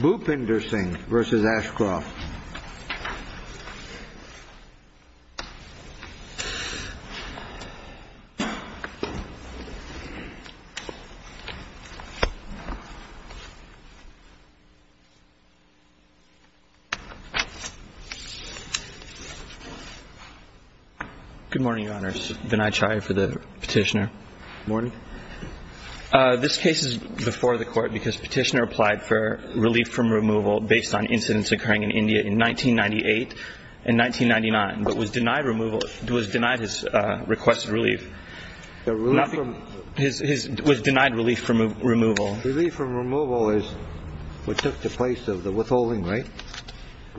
Bhupinder Singh v. Ashcroft Good morning, your honors. Vinay Chhaya for the petitioner. Morning. This case is before the court because petitioner applied for relief from removal based on incidents occurring in India in 1998 and 1999, but was denied his requested relief. Relief from... Was denied relief from removal. Relief from removal is what took the place of the withholding, right?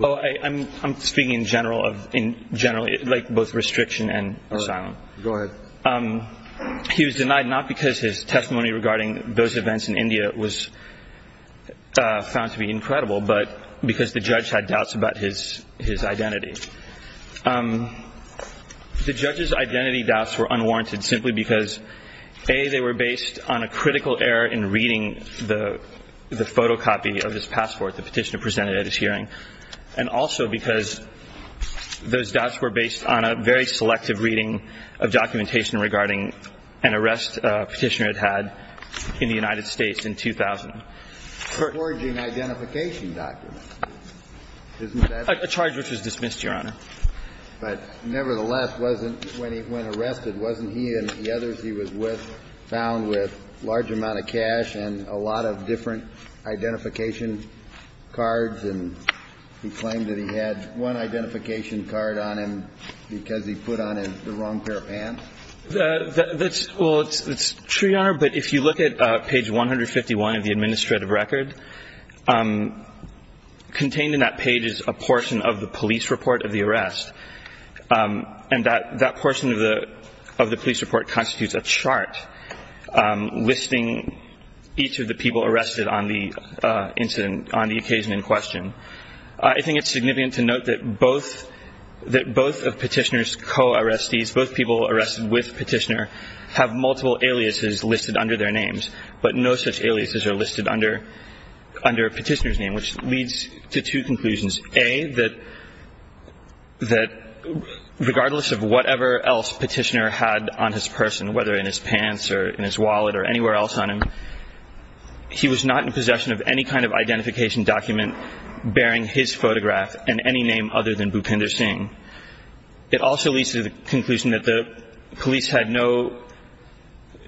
I'm speaking in general, like both restriction and asylum. Go ahead. He was denied not because his testimony regarding those events in India was found to be incredible, but because the judge had doubts about his identity. The judge's identity doubts were unwarranted simply because, A, they were based on a critical error in reading the photocopy of his passport the petitioner presented at his hearing, and also because those doubts were based on a very selective reading of documentation regarding an arrest petitioner had had in the United States in 2000. Forging identification documents. A charge which was dismissed, your honor. But nevertheless, when arrested, wasn't he and the others he was with found with a large amount of cash and a lot of different identification cards, and he claimed that he had one identification card on him because he put on the wrong pair of pants? That's true, your honor, but if you look at page 151 of the administrative record, contained in that page is a portion of the police report of the arrest, and that portion of the police report constitutes a chart listing each of the people arrested on the occasion in question. I think it's significant to note that both of Petitioner's co-arrestees, both people arrested with Petitioner, have multiple aliases listed under their names, but no such aliases are listed under Petitioner's name, which leads to two conclusions. A, that regardless of whatever else Petitioner had on his person, whether in his pants or in his wallet or anywhere else on him, he was not in possession of any kind of identification document bearing his photograph and any name other than Bhupinder Singh. It also leads to the conclusion that the police had no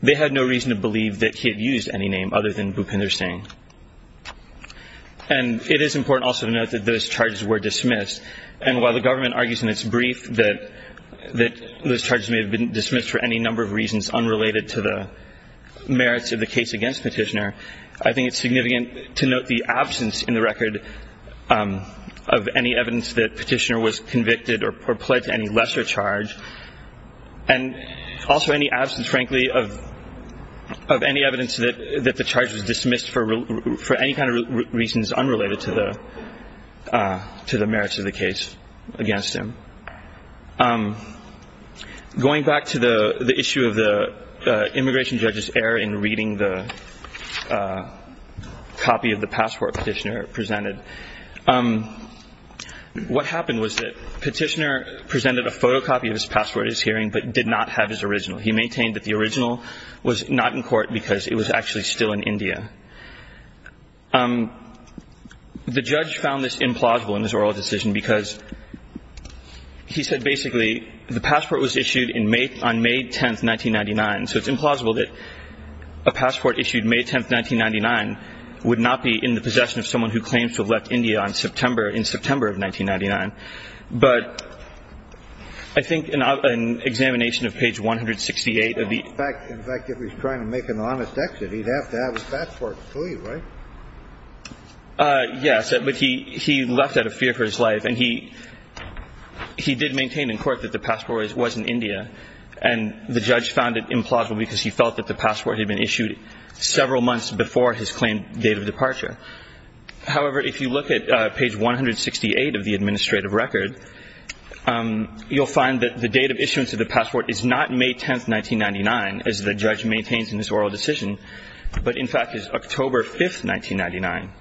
reason to believe that he had used any name other than Bhupinder Singh. And it is important also to note that those charges were dismissed, and while the government argues in its brief that those charges may have been dismissed for any number of reasons unrelated to the merits of the case against Petitioner, I think it's significant to note the absence in the record of any evidence that Petitioner was convicted or pled to any lesser charge, and also any absence, frankly, of any evidence that the charge was dismissed for any kind of reasons unrelated to the merits of the case against him. Going back to the issue of the immigration judge's error in reading the copy of the passport Petitioner presented, what happened was that Petitioner presented a photocopy of his passport at his hearing but did not have his original. He maintained that the original was not in court because it was actually still in India. The judge found this implausible in his oral decision because he said basically the passport was issued on May 10, 1999, so it's implausible that a passport issued May 10, 1999, would not be in the possession of someone who claims to have left India in September of 1999. But I think an examination of page 168 of the – In fact, if he's trying to make an honest exit, he'd have to have his passport, right? Yes. But he left out of fear for his life, and he did maintain in court that the passport was in India, and the judge found it implausible because he felt that the passport had been issued several months before his claimed date of departure. However, if you look at page 168 of the administrative record, you'll find that the date of issuance of the passport is not May 10, 1999, as the judge maintains in his oral decision, but in fact is October 5, 1999.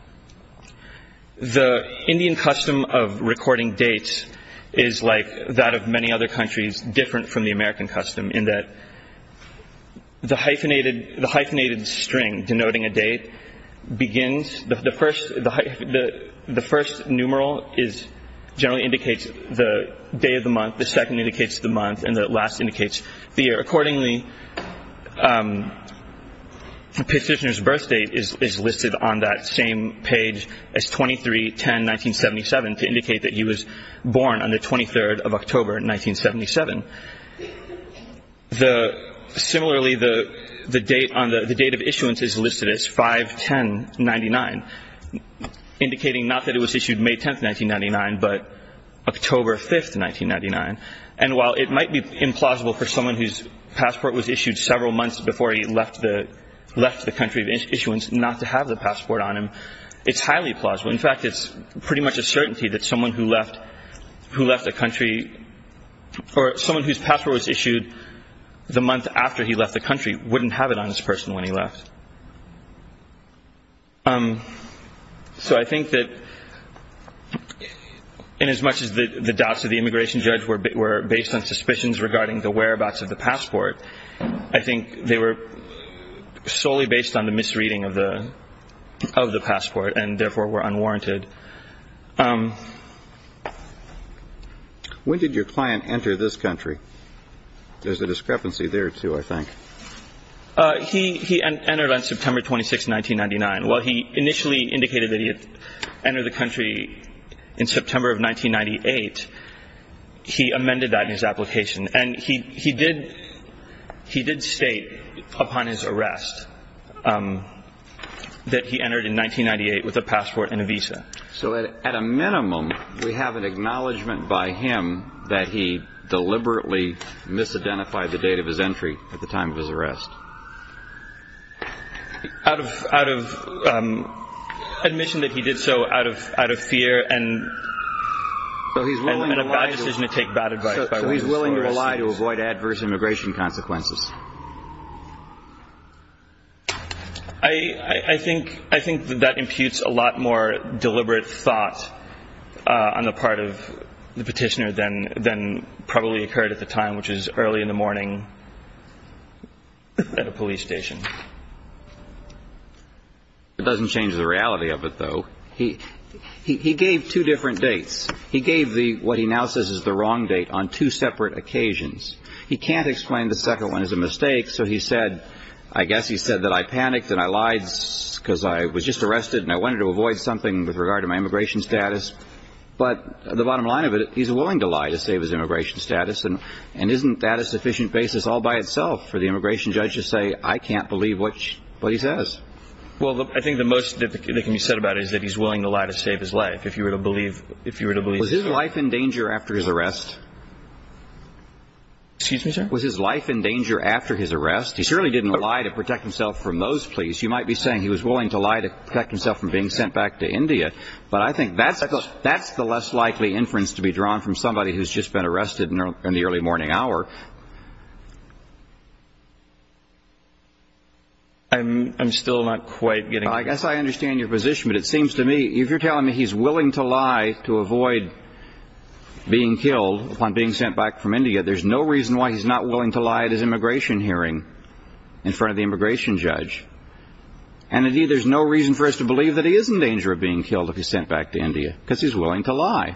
The Indian custom of recording dates is like that of many other countries, but it's different from the American custom in that the hyphenated string denoting a date begins – the first numeral generally indicates the day of the month, the second indicates the month, and the last indicates the year. Accordingly, the petitioner's birth date is listed on that same page as 23-10-1977 to indicate that he was born on the 23rd of October, 1977. Similarly, the date of issuance is listed as 5-10-99, indicating not that it was issued May 10, 1999, but October 5, 1999. And while it might be implausible for someone whose passport was issued several months before he left the country of issuance not to have the passport on him, it's highly plausible. In fact, it's pretty much a certainty that someone who left a country – or someone whose passport was issued the month after he left the country wouldn't have it on his person when he left. So I think that inasmuch as the doubts of the immigration judge were based on suspicions regarding the whereabouts of the passport, I think they were solely based on the misreading of the passport and therefore were unwarranted. When did your client enter this country? There's a discrepancy there, too, I think. He entered on September 26, 1999. While he initially indicated that he had entered the country in September of 1998, he amended that in his application. And he did state upon his arrest that he entered in 1998 with a passport and a visa. So at a minimum, we have an acknowledgment by him that he deliberately misidentified the date of his entry at the time of his arrest. Out of admission that he did so out of fear and a bad decision to take bad advice. So he's willing to lie to avoid adverse immigration consequences. I think that that imputes a lot more deliberate thought on the part of the petitioner than probably occurred at the time, which is early in the morning at a police station. It doesn't change the reality of it, though. He gave two different dates. He gave what he now says is the wrong date on two separate occasions. He can't explain the second one as a mistake. So he said, I guess he said that I panicked and I lied because I was just arrested and I wanted to avoid something with regard to my immigration status. But the bottom line of it, he's willing to lie to save his immigration status. And isn't that a sufficient basis all by itself for the immigration judge to say, I can't believe what he says? Well, I think the most that can be said about it is that he's willing to lie to save his life. Was his life in danger after his arrest? Excuse me, sir? Was his life in danger after his arrest? He certainly didn't lie to protect himself from those pleas. You might be saying he was willing to lie to protect himself from being sent back to India. But I think that's the less likely inference to be drawn from somebody who's just been arrested in the early morning hour. I'm still not quite getting it. I guess I understand your position. But it seems to me, if you're telling me he's willing to lie to avoid being killed upon being sent back from India, there's no reason why he's not willing to lie at his immigration hearing in front of the immigration judge. And indeed, there's no reason for us to believe that he is in danger of being killed if he's sent back to India because he's willing to lie.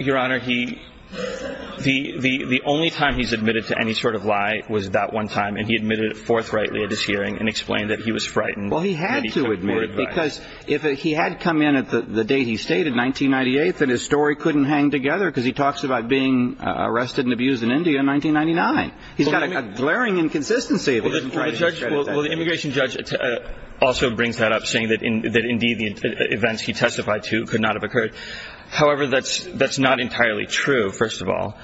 Your Honor, the only time he's admitted to any sort of lie was that one time and he admitted it forthrightly at his hearing and explained that he was frightened. Well, he had to admit it because if he had come in at the date he stated, 1998, then his story couldn't hang together because he talks about being arrested and abused in India in 1999. He's got a glaring inconsistency. Well, the immigration judge also brings that up, saying that indeed the events he testified to could not have occurred. However, that's not entirely true, first of all.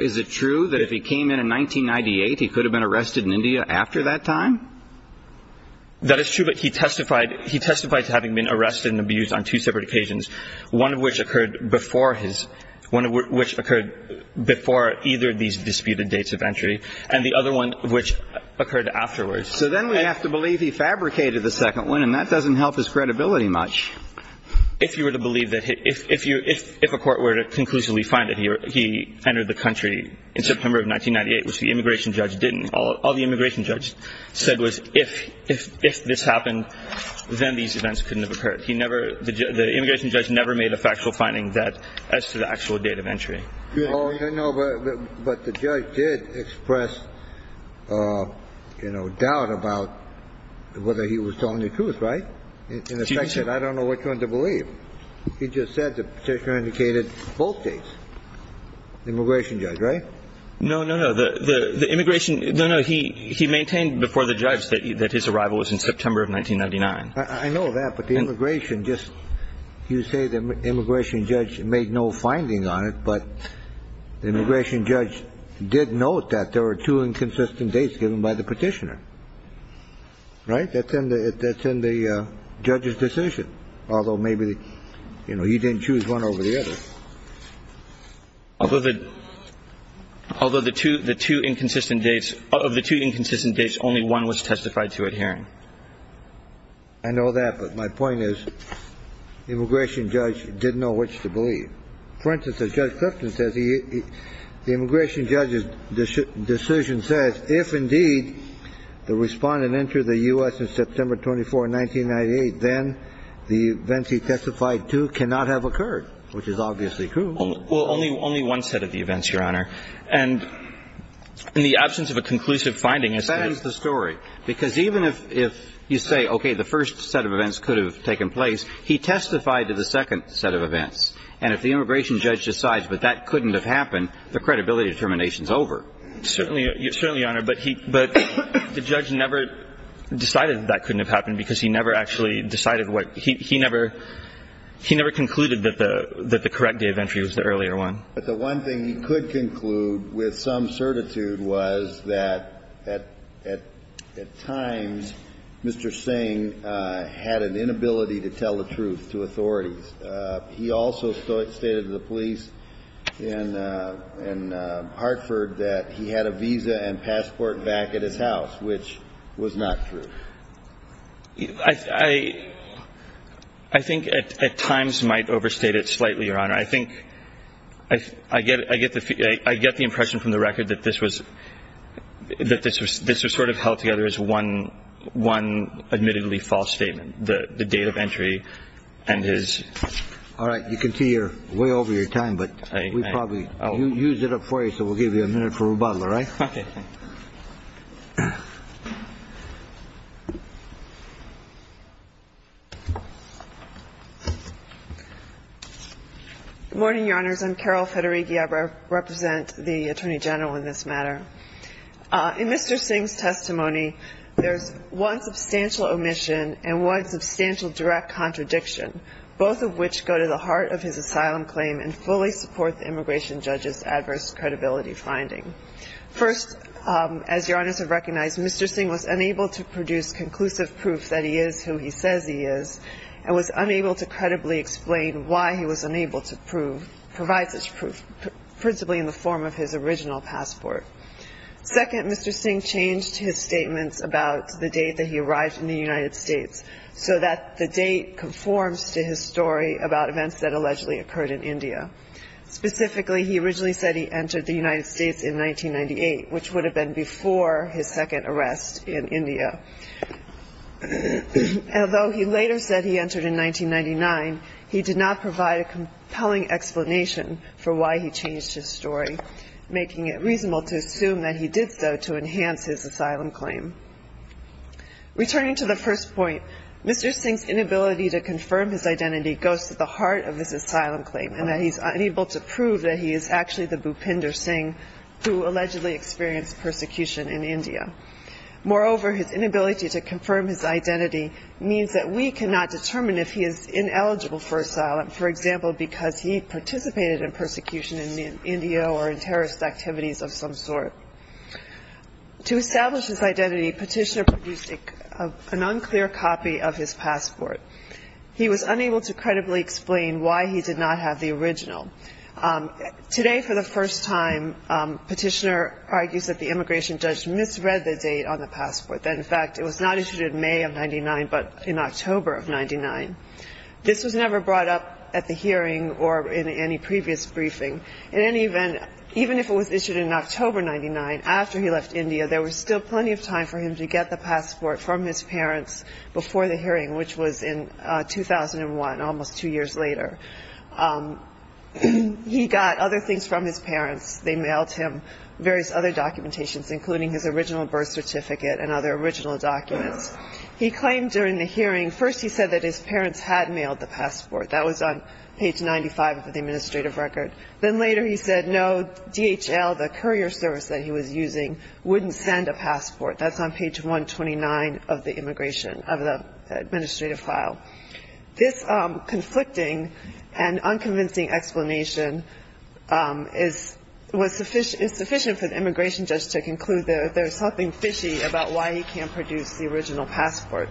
Is it true that if he came in in 1998, he could have been arrested in India after that time? That is true, but he testified to having been arrested and abused on two separate occasions, one of which occurred before his – one of which occurred before either of these disputed dates of entry and the other one which occurred afterwards. So then we have to believe he fabricated the second one, and that doesn't help his credibility much. If you were to believe that – if a court were to conclusively find that he entered the country in September of 1998, which the immigration judge didn't, all the immigration judge said was if this happened, then these events couldn't have occurred. He never – the immigration judge never made a factual finding that – as to the actual date of entry. Oh, no, but the judge did express, you know, doubt about whether he was telling the truth, right? In effect, he said, I don't know which one to believe. He just said the Petitioner indicated both dates. The immigration judge, right? No, no, no. The immigration – no, no. He maintained before the judge that his arrival was in September of 1999. I know that, but the immigration just – you say the immigration judge made no finding on it, but the immigration judge did note that there were two inconsistent dates given by the Petitioner, right? That's in the – that's in the judge's decision, although maybe, you know, he didn't choose one over the other. Although the – although the two – the two inconsistent dates – of the two inconsistent dates, only one was testified to at hearing. I know that, but my point is the immigration judge didn't know which to believe. For instance, as Judge Clifton says, the immigration judge's decision says, if indeed the Respondent entered the U.S. in September 24, 1998, then the events he testified to cannot have occurred, which is obviously true. Well, only – only one set of the events, Your Honor. And in the absence of a conclusive finding is to – That ends the story. Because even if – if you say, okay, the first set of events could have taken place, he testified to the second set of events. And if the immigration judge decides, but that couldn't have happened, the credibility determination is over. Certainly – certainly, Your Honor. But he – but the judge never decided that that couldn't have happened because he never actually decided what – he never – he never concluded that the – that the correct date of entry was the earlier one. But the one thing he could conclude with some certitude was that at – at times, Mr. Singh had an inability to tell the truth to authorities. He also stated to the police in Hartford that he had a visa and passport back at his house, which was not true. I – I think at times might overstate it slightly, Your Honor. I think – I get – I get the impression from the record that this was – that this was sort of held together as one – one admittedly false statement, the date of entry and his – All right. You can see you're way over your time, but we probably – I – I – You used it up for you, so we'll give you a minute for rebuttal, all right? Okay. Good morning, Your Honors. I'm Carol Federighi. I represent the Attorney General in this matter. In Mr. Singh's testimony, there's one substantial omission and one substantial direct contradiction, both of which go to the heart of his asylum claim and fully support the immigration judge's adverse credibility finding. First, as Your Honors have recognized, Mr. Singh was unable to produce conclusive proof that he is who he says he is and was unable to credibly explain why he was unable to prove – principally in the form of his original passport. Second, Mr. Singh changed his statements about the date that he arrived in the United States so that the date conforms to his story about events that allegedly occurred in India. Specifically, he originally said he entered the United States in 1998, which would have been before his second arrest in India. Although he later said he entered in 1999, he did not provide a compelling explanation for why he changed his story, making it reasonable to assume that he did so to enhance his asylum claim. Returning to the first point, Mr. Singh's inability to confirm his identity goes to the heart of his asylum claim and that he's unable to prove that he is actually the Bhupinder Singh who allegedly experienced persecution in India. Moreover, his inability to confirm his identity means that we cannot determine if he is ineligible for asylum, for example, because he participated in persecution in India or in terrorist activities of some sort. To establish his identity, Petitioner produced an unclear copy of his passport. He was unable to credibly explain why he did not have the original. Today, for the first time, Petitioner argues that the immigration judge misread the date on the passport, that, in fact, it was not issued in May of 1999 but in October of 1999. This was never brought up at the hearing or in any previous briefing. In any event, even if it was issued in October 1999, after he left India, there was still plenty of time for him to get the passport from his parents before the hearing, which was in 2001, almost two years later. He got other things from his parents. They mailed him various other documentations, including his original birth certificate and other original documents. He claimed during the hearing, first he said that his parents had mailed the passport. That was on page 95 of the administrative record. Then later he said, no, DHL, the courier service that he was using, wouldn't send a passport. That's on page 129 of the immigration, of the administrative file. This conflicting and unconvincing explanation is sufficient for the immigration judge to conclude that there's something fishy about why he can't produce the original passport.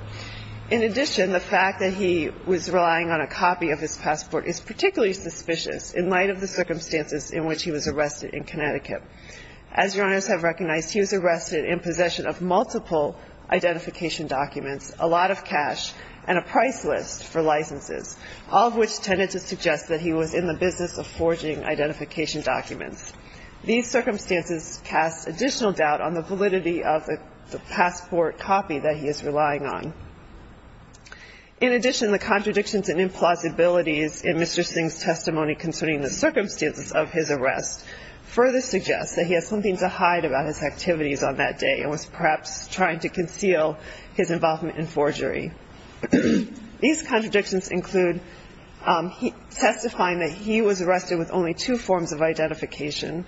In addition, the fact that he was relying on a copy of his passport is particularly suspicious in light of the circumstances in which he was arrested in Connecticut. As your honors have recognized, he was arrested in possession of multiple identification documents, a lot of cash, and a price list for licenses, all of which tended to suggest that he was in the business of forging identification documents. These circumstances cast additional doubt on the validity of the passport copy that he is relying on. In addition, the contradictions and implausibilities in Mr. Singh's testimony concerning the circumstances of his arrest further suggests that he has something to hide about his activities on that day and was perhaps trying to conceal his involvement in forgery. These contradictions include testifying that he was arrested with only two forms of identification,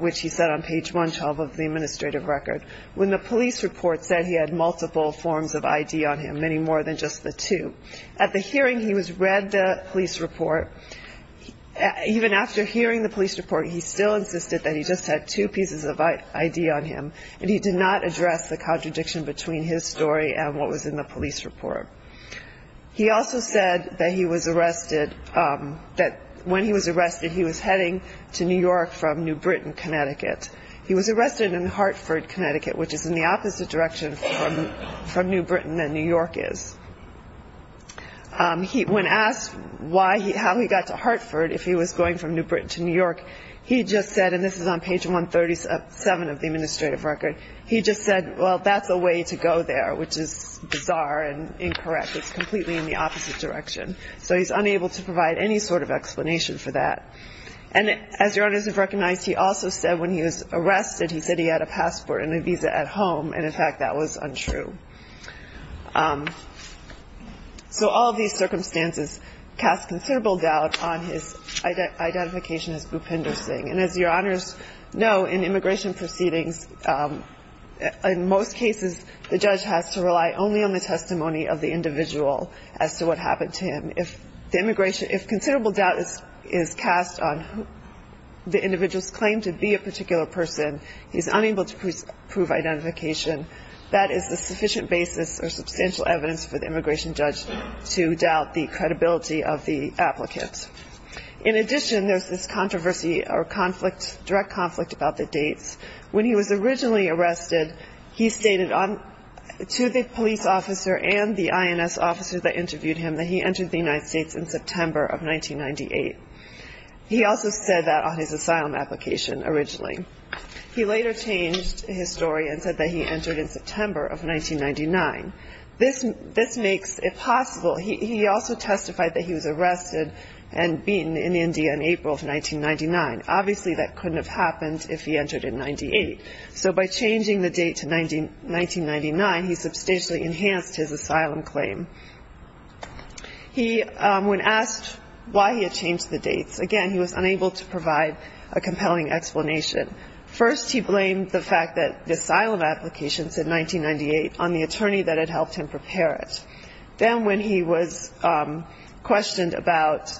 which he said on page 112 of the administrative record, when the police report said he had multiple forms of ID on him, many more than just the two. At the hearing, he was read the police report. Even after hearing the police report, he still insisted that he just had two pieces of ID on him, and he did not address the contradiction between his story and what was in the police report. He also said that he was arrested, that when he was arrested, he was heading to New York from New Britain, Connecticut. He was arrested in Hartford, Connecticut, which is in the opposite direction from New Britain than New York is. When asked how he got to Hartford, if he was going from New Britain to New York, he just said, and this is on page 137 of the administrative record, he just said, well, that's a way to go there, which is bizarre and incorrect. It's completely in the opposite direction. So he's unable to provide any sort of explanation for that. And as your honors have recognized, he also said when he was arrested, he said he had a passport and a visa at home, and in fact that was untrue. So all of these circumstances cast considerable doubt on his identification as Bhupinder Singh. And as your honors know, in immigration proceedings, in most cases, the judge has to rely only on the testimony of the individual as to what happened to him. If considerable doubt is cast on the individual's claim to be a particular person, he's unable to prove identification, that is the sufficient basis or substantial evidence for the immigration judge to doubt the credibility of the applicant. In addition, there's this controversy or conflict, direct conflict about the dates. When he was originally arrested, he stated to the police officer and the INS officer that interviewed him that he entered the United States in September of 1998. He also said that on his asylum application originally. He later changed his story and said that he entered in September of 1999. This makes it possible. He also testified that he was arrested and beaten in India in April of 1999. Obviously, that couldn't have happened if he entered in 1998. So by changing the date to 1999, he substantially enhanced his asylum claim. He, when asked why he had changed the dates, again, he was unable to provide a compelling explanation. First, he blamed the fact that the asylum application said 1998 on the attorney that had helped him prepare it. Then when he was questioned about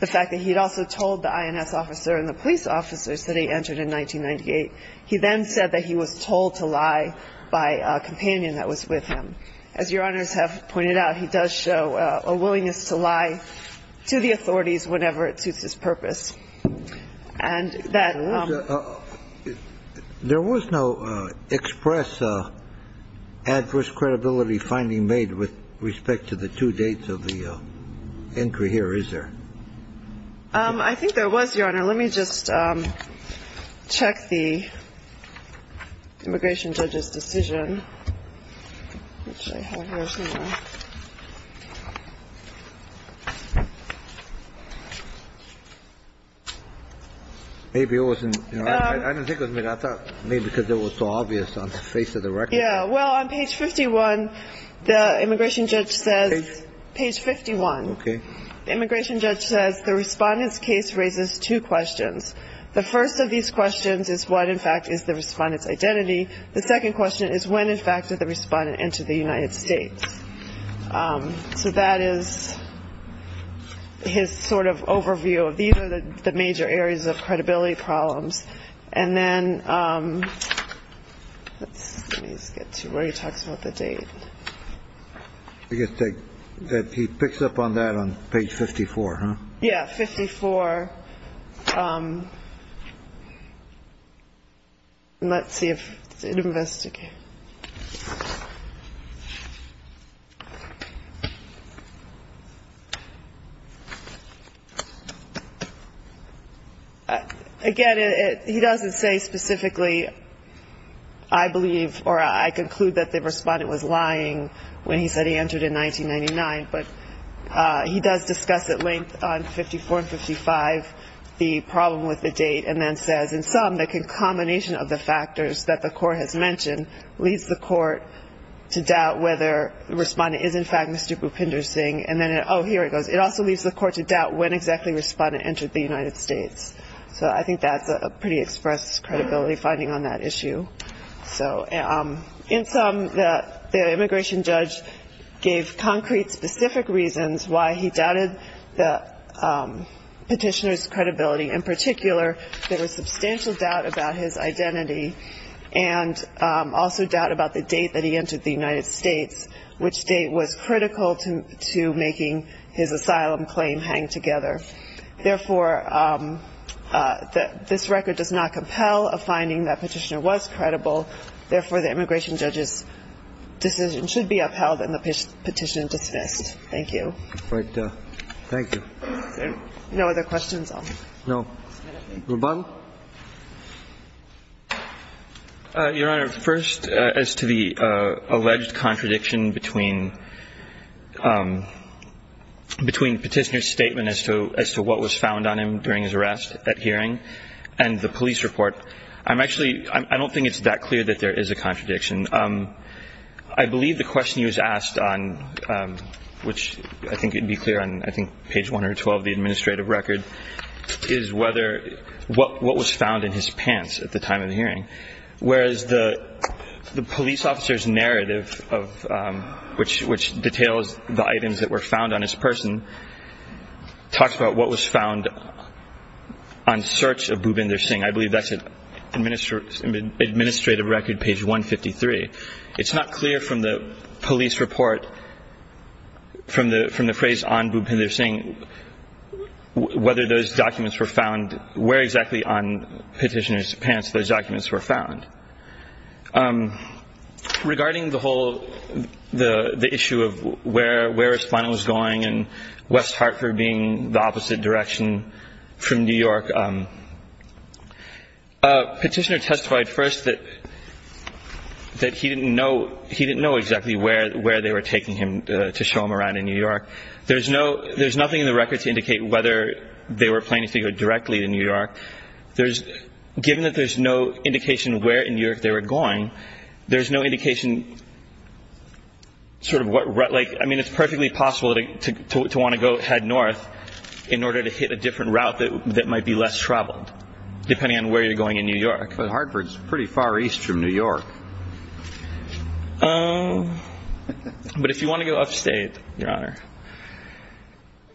the fact that he had also told the INS officer and the police officers that he entered in 1998, he then said that he was told to lie by a companion that was with him. As Your Honors have pointed out, he does show a willingness to lie to the authorities whenever it suits his purpose. And that... There was no express adverse credibility finding made with respect to the two dates of the entry here, is there? I think there was, Your Honor. Let me just check the immigration judge's decision. Maybe it wasn't... I didn't think it was made. I thought it was made because it was so obvious on the face of the record. Yeah. Well, on page 51, the immigration judge says... Page? Page 51. Okay. The immigration judge says the respondent's case raises two questions. The first of these questions is what, in fact, is the respondent's identity. The second question is when and how did the immigration judge decide when, in fact, did the respondent enter the United States? So that is his sort of overview. These are the major areas of credibility problems. And then let me just get to where he talks about the date. I guess he picks up on that on page 54, huh? Yeah, 54. And let's see if it investigates. Again, he doesn't say specifically, I believe, or I conclude that the respondent was lying when he said he entered in 1999. But he does discuss at length on 54 and 55 the problem with the date and then says, in sum, the concomination of the factors that the court has mentioned leads the court to doubt whether the respondent is, in fact, Mr. Bhupinder Singh. And then, oh, here it goes. It also leaves the court to doubt when exactly the respondent entered the United States. So I think that's a pretty express credibility finding on that issue. In sum, the immigration judge gave concrete, specific reasons why he doubted the petitioner's credibility. In particular, there was substantial doubt about his identity and also doubt about the date that he entered the United States, which date was critical to making his asylum claim hang together. Therefore, this record does not compel a finding that petitioner was credible. Therefore, the immigration judge's decision should be upheld and the petition dismissed. Thank you. Thank you. No other questions? No. Ruben? I have a question as to what was found on him during his arrest at hearing and the police report. I'm actually ‑‑ I don't think it's that clear that there is a contradiction. I believe the question he was asked on, which I think would be clear on, I think, page 1 or 12 of the administrative record, is whether what was found in his pants at the time of the hearing, whereas the police officer's narrative, which details the items that were found on his person, talks about what was found on search of Bhupinder Singh. I believe that's administrative record, page 153. It's not clear from the police report, from the phrase on Bhupinder Singh, whether those documents were found, where exactly on petitioner's pants those documents were found. Regarding the whole ‑‑ the issue of where his finding was going and West Hartford being the opposite direction from New York, petitioner testified first that he didn't know exactly where they were taking him to show him around in New York. There's nothing in the record to indicate whether they were planning to go directly to New York. Given that there's no indication where in New York they were going, there's no indication sort of what ‑‑ I mean, it's perfectly possible to want to go head north in order to hit a different route that might be less traveled, depending on where you're going in New York. But Hartford's pretty far east from New York. But if you want to go upstate, Your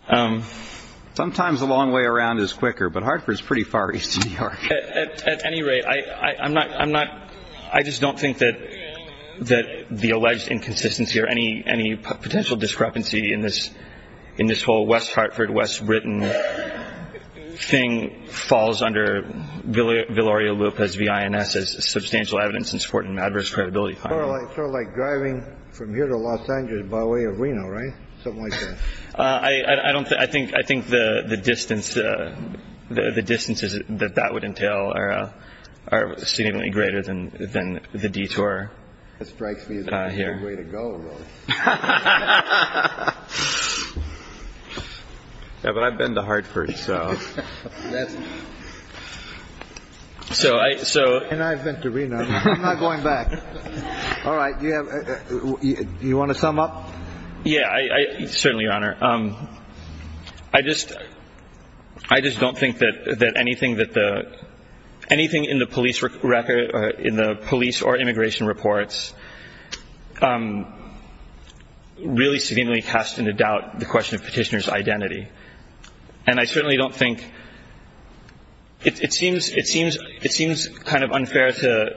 Honor. Sometimes the long way around is quicker, but Hartford's pretty far east of New York. At any rate, I'm not ‑‑ I just don't think that the alleged inconsistency or any potential discrepancy in this whole West Hartford, West Britain thing falls under Viloria Lupe's V.I.N.S. as substantial evidence in support of an adverse credibility finding. Sort of like driving from here to Los Angeles by way of Reno, right? Something like that. I don't think ‑‑ I think the distance that that would entail are seemingly greater than the detour here. That strikes me as a good way to go, though. Yeah, but I've been to Hartford, so. And I've been to Reno. I'm not going back. All right. Do you want to sum up? Yeah, certainly, Your Honor. I just don't think that anything in the police or immigration reports really severely casts into doubt the question of petitioner's identity. And I certainly don't think ‑‑ it seems kind of unfair to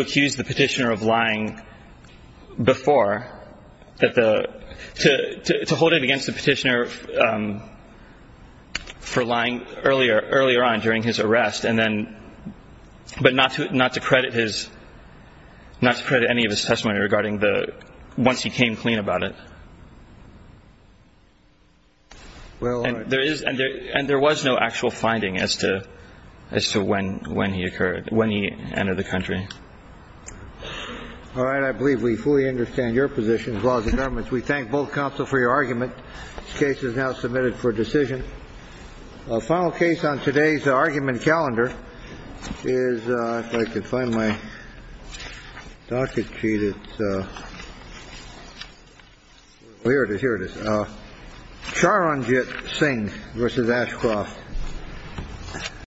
accuse the petitioner of lying before. To hold him against the petitioner for lying earlier on during his arrest, but not to credit any of his testimony regarding the once he came clean about it. And there was no actual finding as to when he entered the country. All right. I believe we fully understand your position. The laws of government. We thank both counsel for your argument. This case is now submitted for decision. Final case on today's argument calendar is, if I could find my docket sheet. Here it is. Here it is. Charanjit Singh versus Ashcroft.